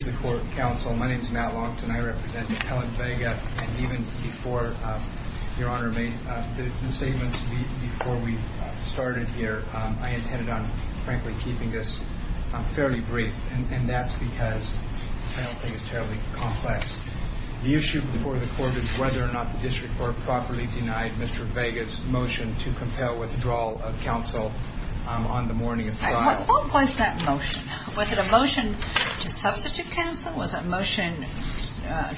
The issue before the court is whether or not the district court properly denied Mr. Vega's motion to compel withdrawal of counsel on the morning of the trial. What was that motion? Was it a motion to substitute counsel? Was it a motion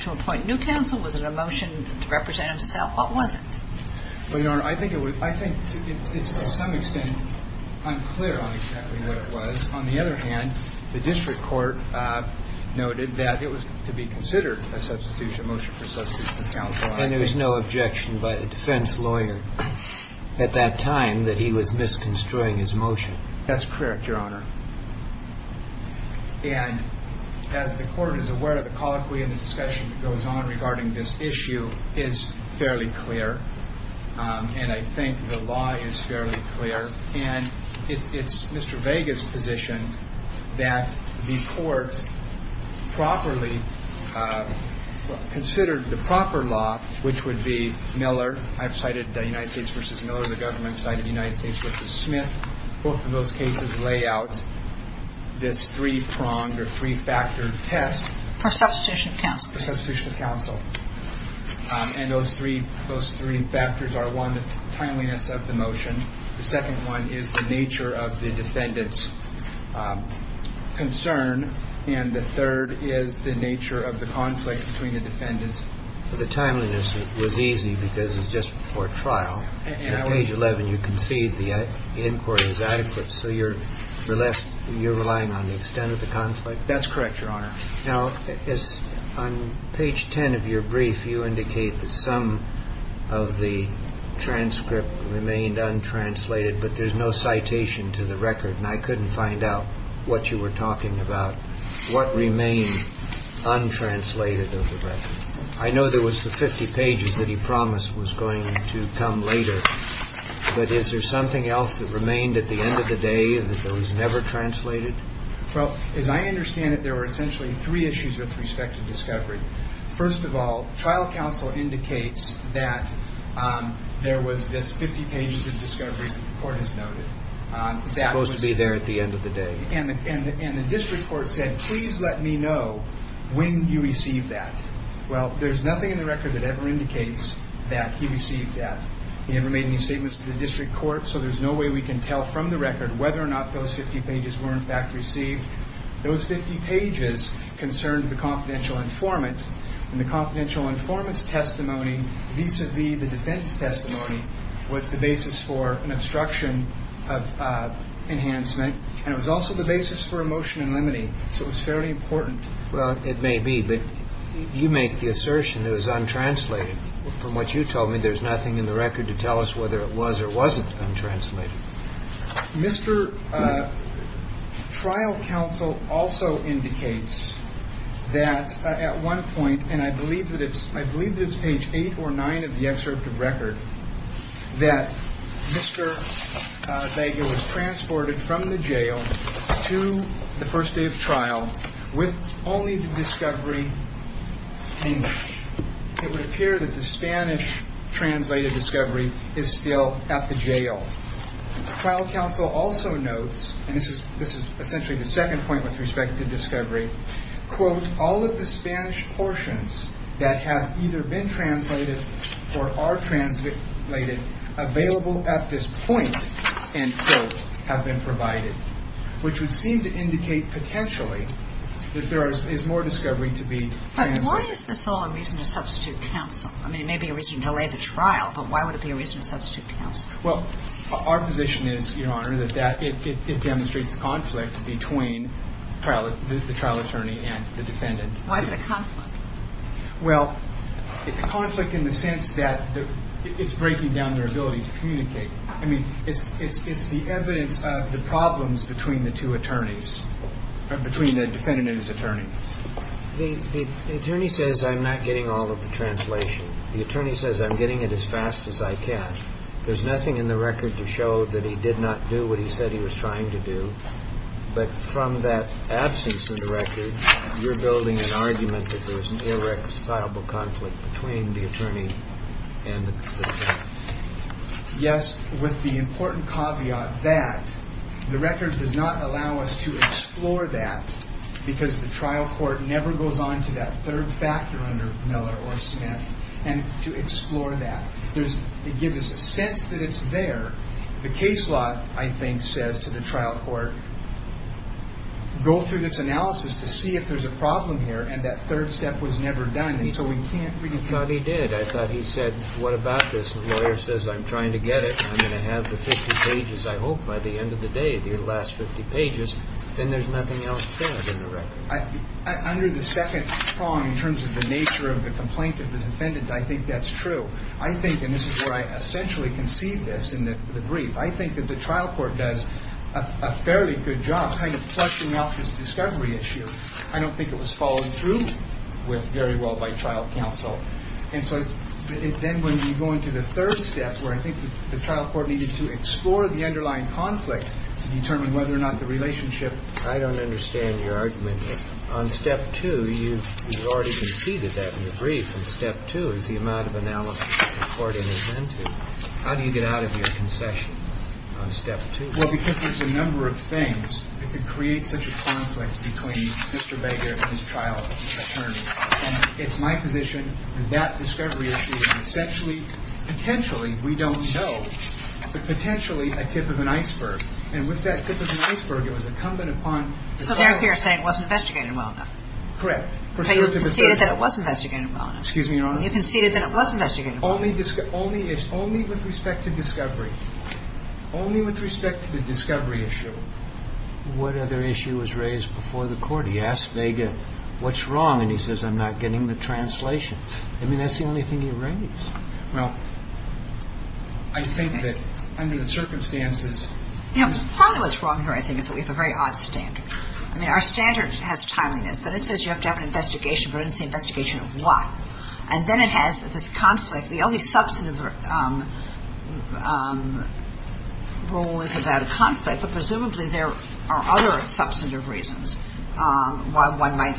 to appoint new counsel? Was it a motion to represent himself? What was it? Well, Your Honor, I think to some extent I'm clear on exactly what it was. On the other hand, the district court noted that it was to be considered a motion for substitution of counsel. And there was no objection by the defense lawyer at that time that he was misconstruing his motion? That's correct, Your Honor. And as the court is aware of the colloquy and the discussion that goes on regarding this issue is fairly clear. And I think the law is fairly clear. And it's Mr. Vega's position that the court properly considered the proper law, which would be Miller. I've cited the United States v. Miller. The government cited United States v. Smith. Both of those cases lay out this three-pronged or three-factored test for substitution of counsel. And those three factors are, one, the timeliness of the motion. The second one is the nature of the defendant's concern. And the third is the nature of the conflict between the defendants. The timeliness was easy because it was just before trial. At page 11, you concede the inquiry is adequate. So you're relying on the extent of the conflict? That's correct, Your Honor. Now, on page 10 of your brief, you indicate that some of the transcript remained untranslated, but there's no citation to the record. And I couldn't find out what you were talking about, what remained untranslated of the record. I know there was the 50 pages that he promised was going to come later. But is there something else that remained at the end of the day and that was never translated? Well, as I understand it, there were essentially three issues with respect to discovery. First of all, trial counsel indicates that there was this 50 pages of discovery that the court has noted. It's supposed to be there at the end of the day. And the district court said, please let me know when you receive that. Well, there's nothing in the record that ever indicates that he received that. He never made any statements to the district court, so there's no way we can tell from the record whether or not those 50 pages were in fact received. Those 50 pages concerned the confidential informant, and the confidential informant's testimony vis-à-vis the defendant's testimony was the basis for an obstruction of enhancement, and it was also the basis for a motion in limine, so it was fairly important. Well, it may be, but you make the assertion it was untranslated. From what you told me, there's nothing in the record to tell us whether it was or wasn't untranslated. Mr. Trial counsel also indicates that at one point, and I believe that it's page 8 or 9 of the excerpt of record, that Mr. Bagel was transported from the jail to the first day of trial with only the discovery. It would appear that the Spanish translated discovery is still at the jail. Trial counsel also notes, and this is essentially the second point with respect to discovery, quote, all of the Spanish portions that have either been translated or are translated available at this point, end quote, have been provided, which would seem to indicate potentially that there is more discovery to be translated. But why is this all a reason to substitute counsel? I mean, it may be a reason to delay the trial, but why would it be a reason to substitute counsel? Well, our position is, Your Honor, that it demonstrates the conflict between the trial attorney and the defendant. Why is it a conflict? Well, a conflict in the sense that it's breaking down their ability to communicate. I mean, it's the evidence of the problems between the two attorneys, between the defendant and his attorney. The attorney says, I'm not getting all of the translation. The attorney says, I'm getting it as fast as I can. There's nothing in the record to show that he did not do what he said he was trying to do. But from that absence in the record, you're building an argument that there is an irreconcilable conflict between the attorney and the defendant. Yes, with the important caveat that the record does not allow us to explore that, because the trial court never goes on to that third factor under Miller or Smith, and to explore that. It gives us a sense that it's there. The case law, I think, says to the trial court, go through this analysis to see if there's a problem here, and that third step was never done, and so we can't really tell. I thought he did. I thought he said, what about this? The lawyer says, I'm trying to get it. I'm going to have the 50 pages, I hope, by the end of the day, the last 50 pages. Then there's nothing else there in the record. Under the second prong, in terms of the nature of the complaint of the defendant, I think that's true. I think, and this is where I essentially concede this in the brief, I think that the trial court does a fairly good job kind of flushing out this discovery issue. I don't think it was followed through with very well by trial counsel. And so then when you go into the third step, where I think the trial court needed to explore the underlying conflict to determine whether or not the relationship I don't understand your argument. On step two, you've already conceded that in the brief, and step two is the amount of analysis the court has been to. How do you get out of your concession on step two? Well, because there's a number of things that could create such a conflict between Mr. Baker and his trial attorney. And it's my position that that discovery issue is essentially, potentially, we don't know, but potentially a tip of an iceberg. And with that tip of an iceberg, it was incumbent upon the lawyer. So there you're saying it wasn't investigated well enough. Correct. But you conceded that it was investigated well enough. Excuse me, Your Honor? You conceded that it was investigated well enough. Only with respect to discovery. Only with respect to the discovery issue. What other issue was raised before the court? He asked Baker, what's wrong? And he says, I'm not getting the translation. I mean, that's the only thing he raised. Well, I think that under the circumstances. Part of what's wrong here, I think, is that we have a very odd standard. I mean, our standard has timeliness, but it says you have to have an investigation, but it doesn't say investigation of what. And then it has this conflict. The only substantive rule is about a conflict, but presumably there are other substantive reasons why one might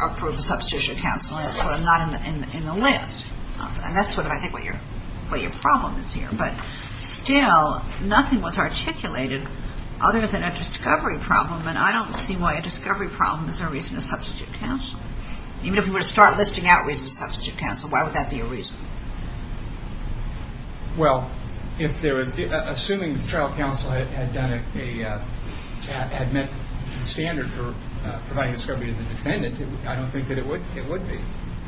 approve a substitution counsel, and that's sort of not in the list. And that's sort of, I think, what your problem is here. But still, nothing was articulated other than a discovery problem, and I don't see why a discovery problem is a reason to substitute counsel. Even if we were to start listing out reasons to substitute counsel, why would that be a reason? Well, assuming the trial counsel had met the standard for providing discovery to the defendant, I don't think that it would be.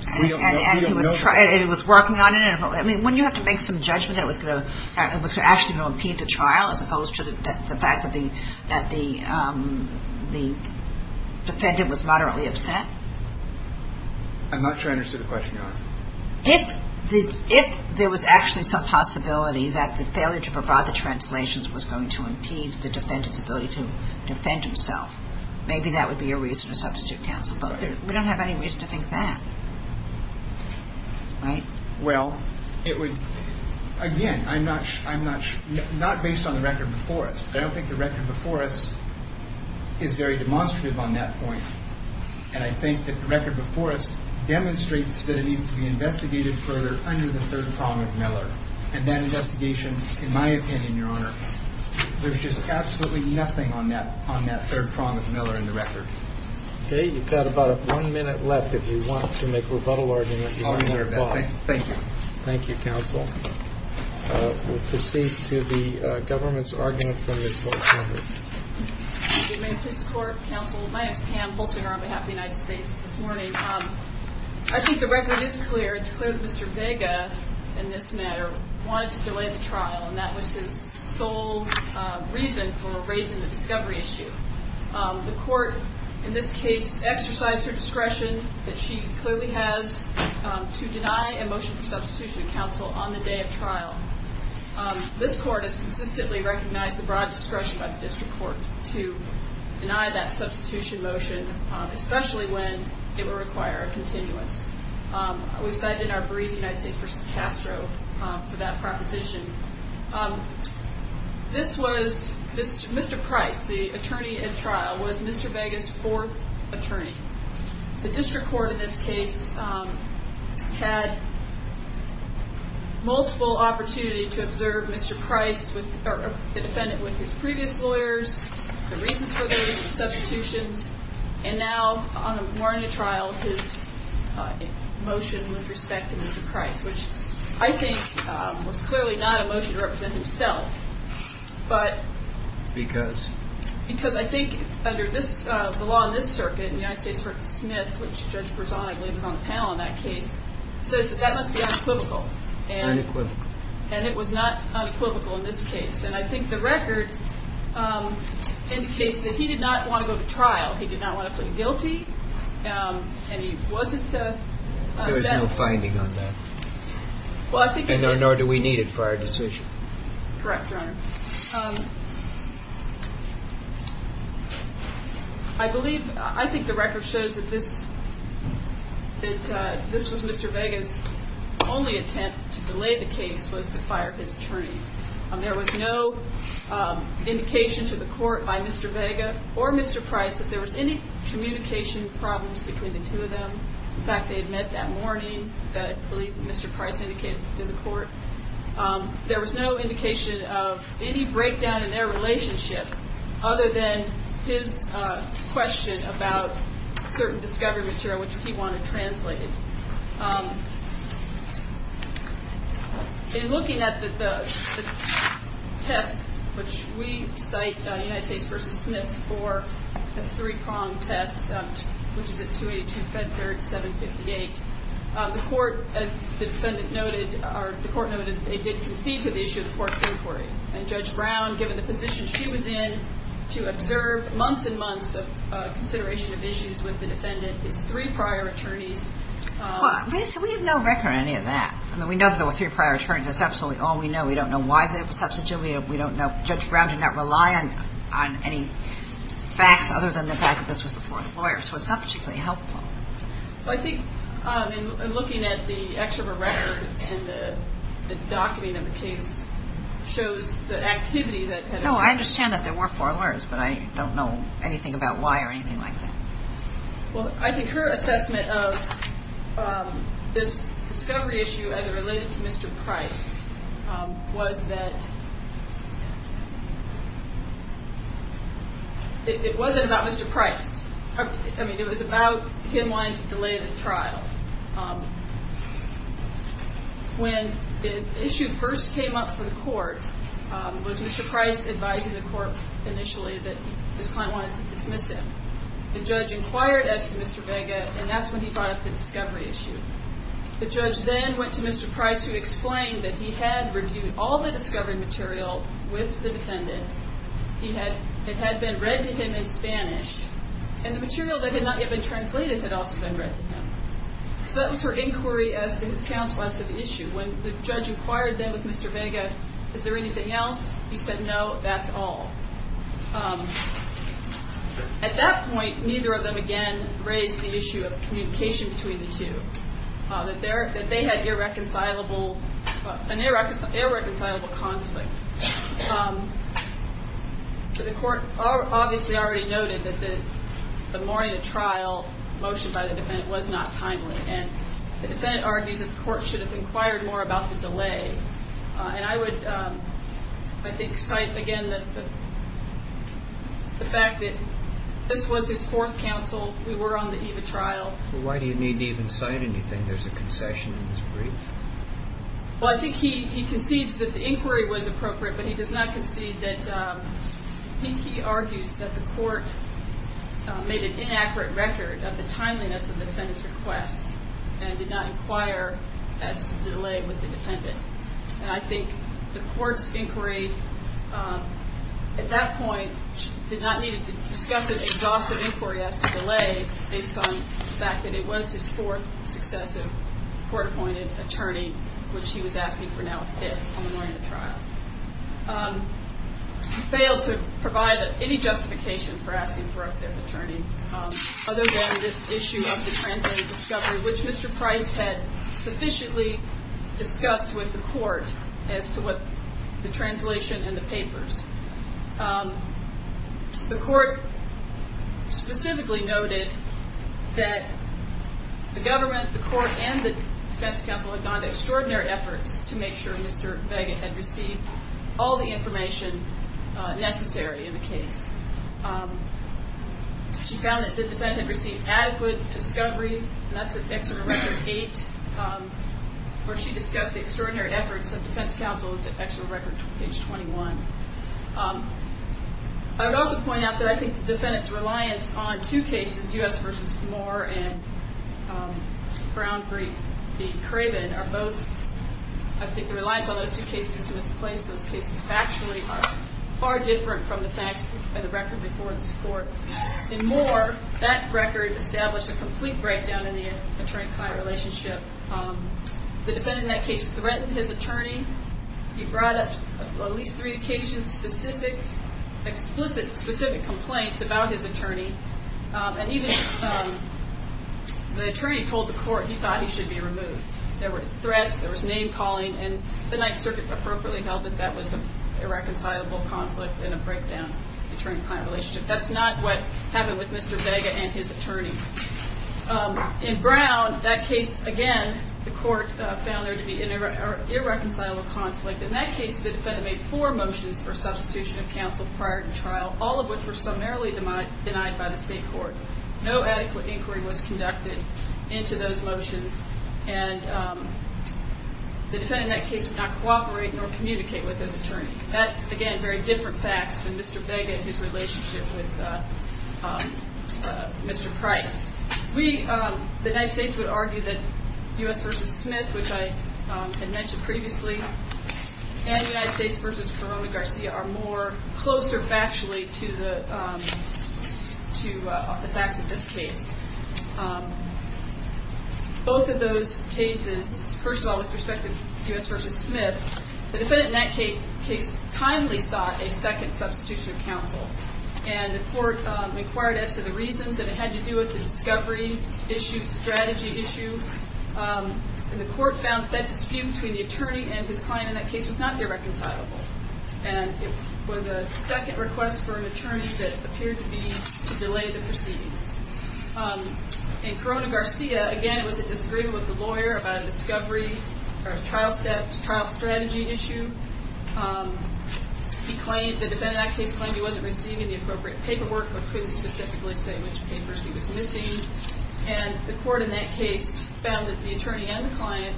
And it was working on it. I mean, wouldn't you have to make some judgment that it was actually going to impede the trial as opposed to the fact that the defendant was moderately upset? I'm not sure I understood the question, Your Honor. If there was actually some possibility that the failure to provide the translations was going to impede the defendant's ability to defend himself, maybe that would be a reason to substitute counsel. But we don't have any reason to think that. Right? Well, it would, again, I'm not based on the record before us. I don't think the record before us is very demonstrative on that point. And I think that the record before us demonstrates that it needs to be investigated further under the third prong of Miller. And that investigation, in my opinion, Your Honor, there's just absolutely nothing on that third prong of Miller in the record. Okay. You've got about one minute left if you want to make rebuttal arguments. Thank you. Thank you, counsel. We'll proceed to the government's argument from Ms. Holtzinger. Good morning, Mr. Court, counsel. My name is Pam Holtzinger on behalf of the United States this morning. I think the record is clear. It's clear that Mr. Vega, in this matter, wanted to delay the trial, and that was his sole reason for raising the discovery issue. The court, in this case, exercised her discretion, that she clearly has, to deny a motion for substitution of counsel on the day of trial. This court has consistently recognized the broad discretion by the district court to deny that substitution motion, especially when it would require a continuance. We cited in our brief United States v. Castro for that proposition. This was Mr. Price, the attorney at trial, was Mr. Vega's fourth attorney. The district court, in this case, had multiple opportunities to observe Mr. Price, the defendant, with his previous lawyers, the reasons for those substitutions, and now, on the morning of trial, his motion with respect to Mr. Price, which I think was clearly not a motion to represent himself. Because? Because I think, under the law in this circuit, in the United States v. Smith, which Judge Berzon, I believe, was on the panel in that case, says that that must be unequivocal. Unequivocal. And it was not unequivocal in this case. And I think the record indicates that he did not want to go to trial. He did not want to plead guilty, and he wasn't sentenced. There is no finding on that. Nor do we need it for our decision. Correct, Your Honor. I believe, I think the record shows that this was Mr. Vega's only attempt to delay the case was to fire his attorney. There was no indication to the court by Mr. Vega or Mr. Price that there was any communication problems between the two of them. In fact, they had met that morning, that I believe Mr. Price indicated to the court. There was no indication of any breakdown in their relationship other than his question about certain discovery material, which he wanted translated. In looking at the test, which we cite United States v. Smith for a three-pronged test, which is at 282 FedDirt 758, the court, as the defendant noted, or the court noted, they did concede to the issue of the court's inquiry. And Judge Brown, given the position she was in to observe months and months of consideration of issues with the defendant, Well, we have no record of any of that. I mean, we know there were three prior attorneys. That's absolutely all we know. We don't know why there was substantive. We don't know. Judge Brown did not rely on any facts other than the fact that this was the fourth lawyer. So it's not particularly helpful. Well, I think in looking at the excerpt of a record in the document of the case shows the activity that had occurred. No, I understand that there were four lawyers, but I don't know anything about why or anything like that. Well, I think her assessment of this discovery issue as it related to Mr. Price was that it wasn't about Mr. Price. I mean, it was about him wanting to delay the trial. When the issue first came up for the court, was Mr. Price advising the court initially that this client wanted to dismiss him? The judge inquired as to Mr. Vega, and that's when he brought up the discovery issue. The judge then went to Mr. Price who explained that he had reviewed all the discovery material with the defendant. It had been read to him in Spanish, and the material that had not yet been translated had also been read to him. So that was her inquiry as to his counsel as to the issue. When the judge inquired then with Mr. Vega, is there anything else? He said, no, that's all. At that point, neither of them again raised the issue of communication between the two, that they had irreconcilable conflict. The court obviously already noted that the morning of trial motion by the defendant was not timely, and the defendant argues that the court should have inquired more about the delay. And I would, I think, cite again the fact that this was his fourth counsel. We were on the eve of trial. Why do you need to even cite anything? There's a concession in this brief. Well, I think he concedes that the inquiry was appropriate, but he does not concede that he argues that the court made an inaccurate record of the timeliness of the defendant's request and did not inquire as to the delay with the defendant. And I think the court's inquiry at that point did not need to discuss an exhaustive inquiry as to delay based on the fact that it was his fourth successive court-appointed attorney, which he was asking for now a fifth on the morning of trial. He failed to provide any justification for asking for a fifth attorney, other than this issue of the translated discovery, which Mr. Price had sufficiently discussed with the court as to what the translation in the papers. The court specifically noted that the government, the court, and the defense counsel had gone to extraordinary efforts to make sure Mr. Vega had received all the information necessary in the case. She found that the defendant had received adequate discovery, and that's at Exeter Record 8, where she discussed the extraordinary efforts of defense counsel at Exeter Record Page 21. I would also point out that I think the defendant's reliance on two cases, U.S. v. Moore and Brown v. Craven, are both, I think the reliance on those two cases is misplaced. Those cases factually are far different from the facts of the record before this court. In Moore, that record established a complete breakdown in the attorney-client relationship. The defendant in that case threatened his attorney. He brought up, at least three occasions, specific, explicit, specific complaints about his attorney. And even the attorney told the court he thought he should be removed. There were threats. There was name-calling. And the Ninth Circuit appropriately held that that was an irreconcilable conflict and a breakdown in the attorney-client relationship. That's not what happened with Mr. Vega and his attorney. In Brown, that case, again, the court found there to be an irreconcilable conflict. In that case, the defendant made four motions for substitution of counsel prior to trial, all of which were summarily denied by the state court. No adequate inquiry was conducted into those motions. And the defendant in that case would not cooperate nor communicate with his attorney. That, again, very different facts than Mr. Vega and his relationship with Mr. Price. We, the United States, would argue that U.S. v. Smith, which I had mentioned previously, and United States v. Corona-Garcia are more closer factually to the facts of this case. Both of those cases, first of all, with respect to U.S. v. Smith, the defendant in that case timely sought a second substitution of counsel. And the court inquired as to the reasons that it had to do with the discovery issue, strategy issue. And the court found that dispute between the attorney and his client in that case was not irreconcilable. And it was a second request for an attorney that appeared to be to delay the proceedings. In Corona-Garcia, again, it was a disagreement with the lawyer about discovery or trial strategy issue. He claimed, the defendant in that case claimed he wasn't receiving the appropriate paperwork but couldn't specifically say which papers he was missing. And the court in that case found that the attorney and the client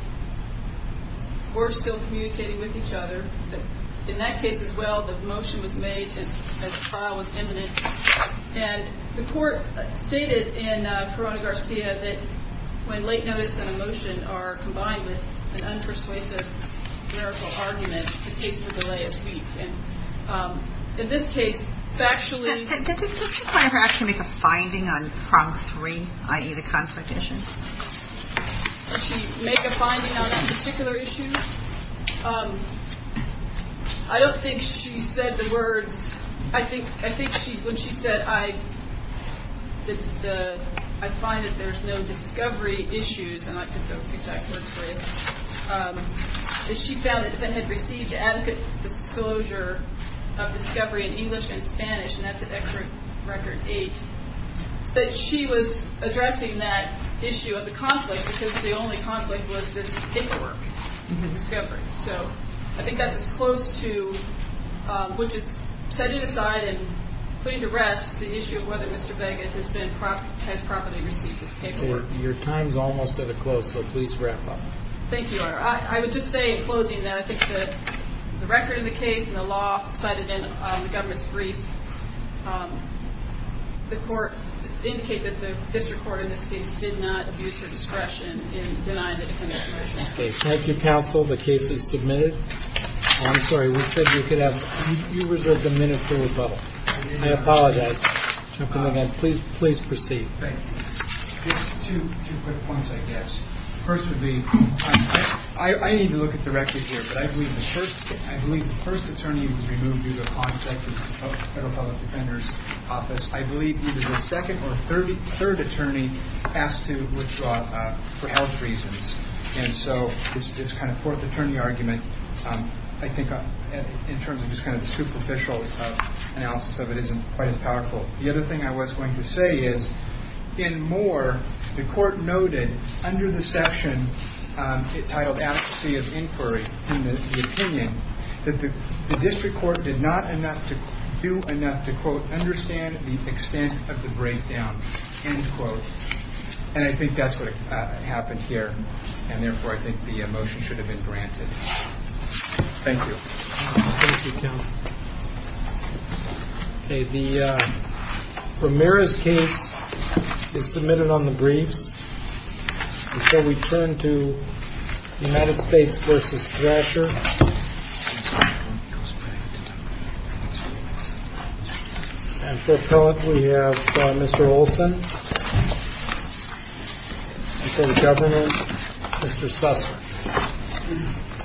were still communicating with each other. In that case, as well, the motion was made that the trial was imminent. And the court stated in Corona-Garcia that when late notice and a motion are combined with an unpersuasive miracle argument, the case for delay is weak. And in this case, factually... Does the client actually make a finding on prompt three, i.e., the conflict issue? Does she make a finding on a particular issue? I don't think she said the words. I think when she said, I find that there's no discovery issues, and I think those are the exact words for it, she found that the defendant had received adequate disclosure of discovery in English and Spanish, and that's an extra record eight. But she was addressing that issue of the conflict because the only conflict was this paperwork discovery. So I think that's as close to... Which is setting aside and putting to rest the issue of whether Mr. Vega has properly received the paperwork. Your time's almost at a close, so please wrap up. Thank you, Your Honor. I would just say in closing that I think that the record of the case and the law cited in the government's brief, the court indicated that the district court in this case did not use her discretion in denying the defendant's motion. Okay, thank you, counsel. The case is submitted. I'm sorry, we said you could have... You reserved a minute for rebuttal. I apologize. Please proceed. Two quick points, I guess. First would be, I need to look at the record here, but I believe the first attorney was removed due to a conflict with the Federal Public Defender's Office. I believe either the second or third attorney asked to withdraw for health reasons. And so this kind of fourth attorney argument, I think, in terms of this kind of superficial analysis of it isn't quite as powerful. The other thing I was going to say is, in Moore, the court noted under the section titled Adequacy of Inquiry in the opinion that the district court did not do enough to, quote, understand the extent of the breakdown, end quote. And I think that's what happened here, and therefore I think the motion should have been granted. Thank you. Thank you, counsel. Okay. The Ramirez case is submitted on the briefs. And so we turn to United States v. Thrasher. And for appellate we have Mr. Olson. For the governor, Mr. Sussman.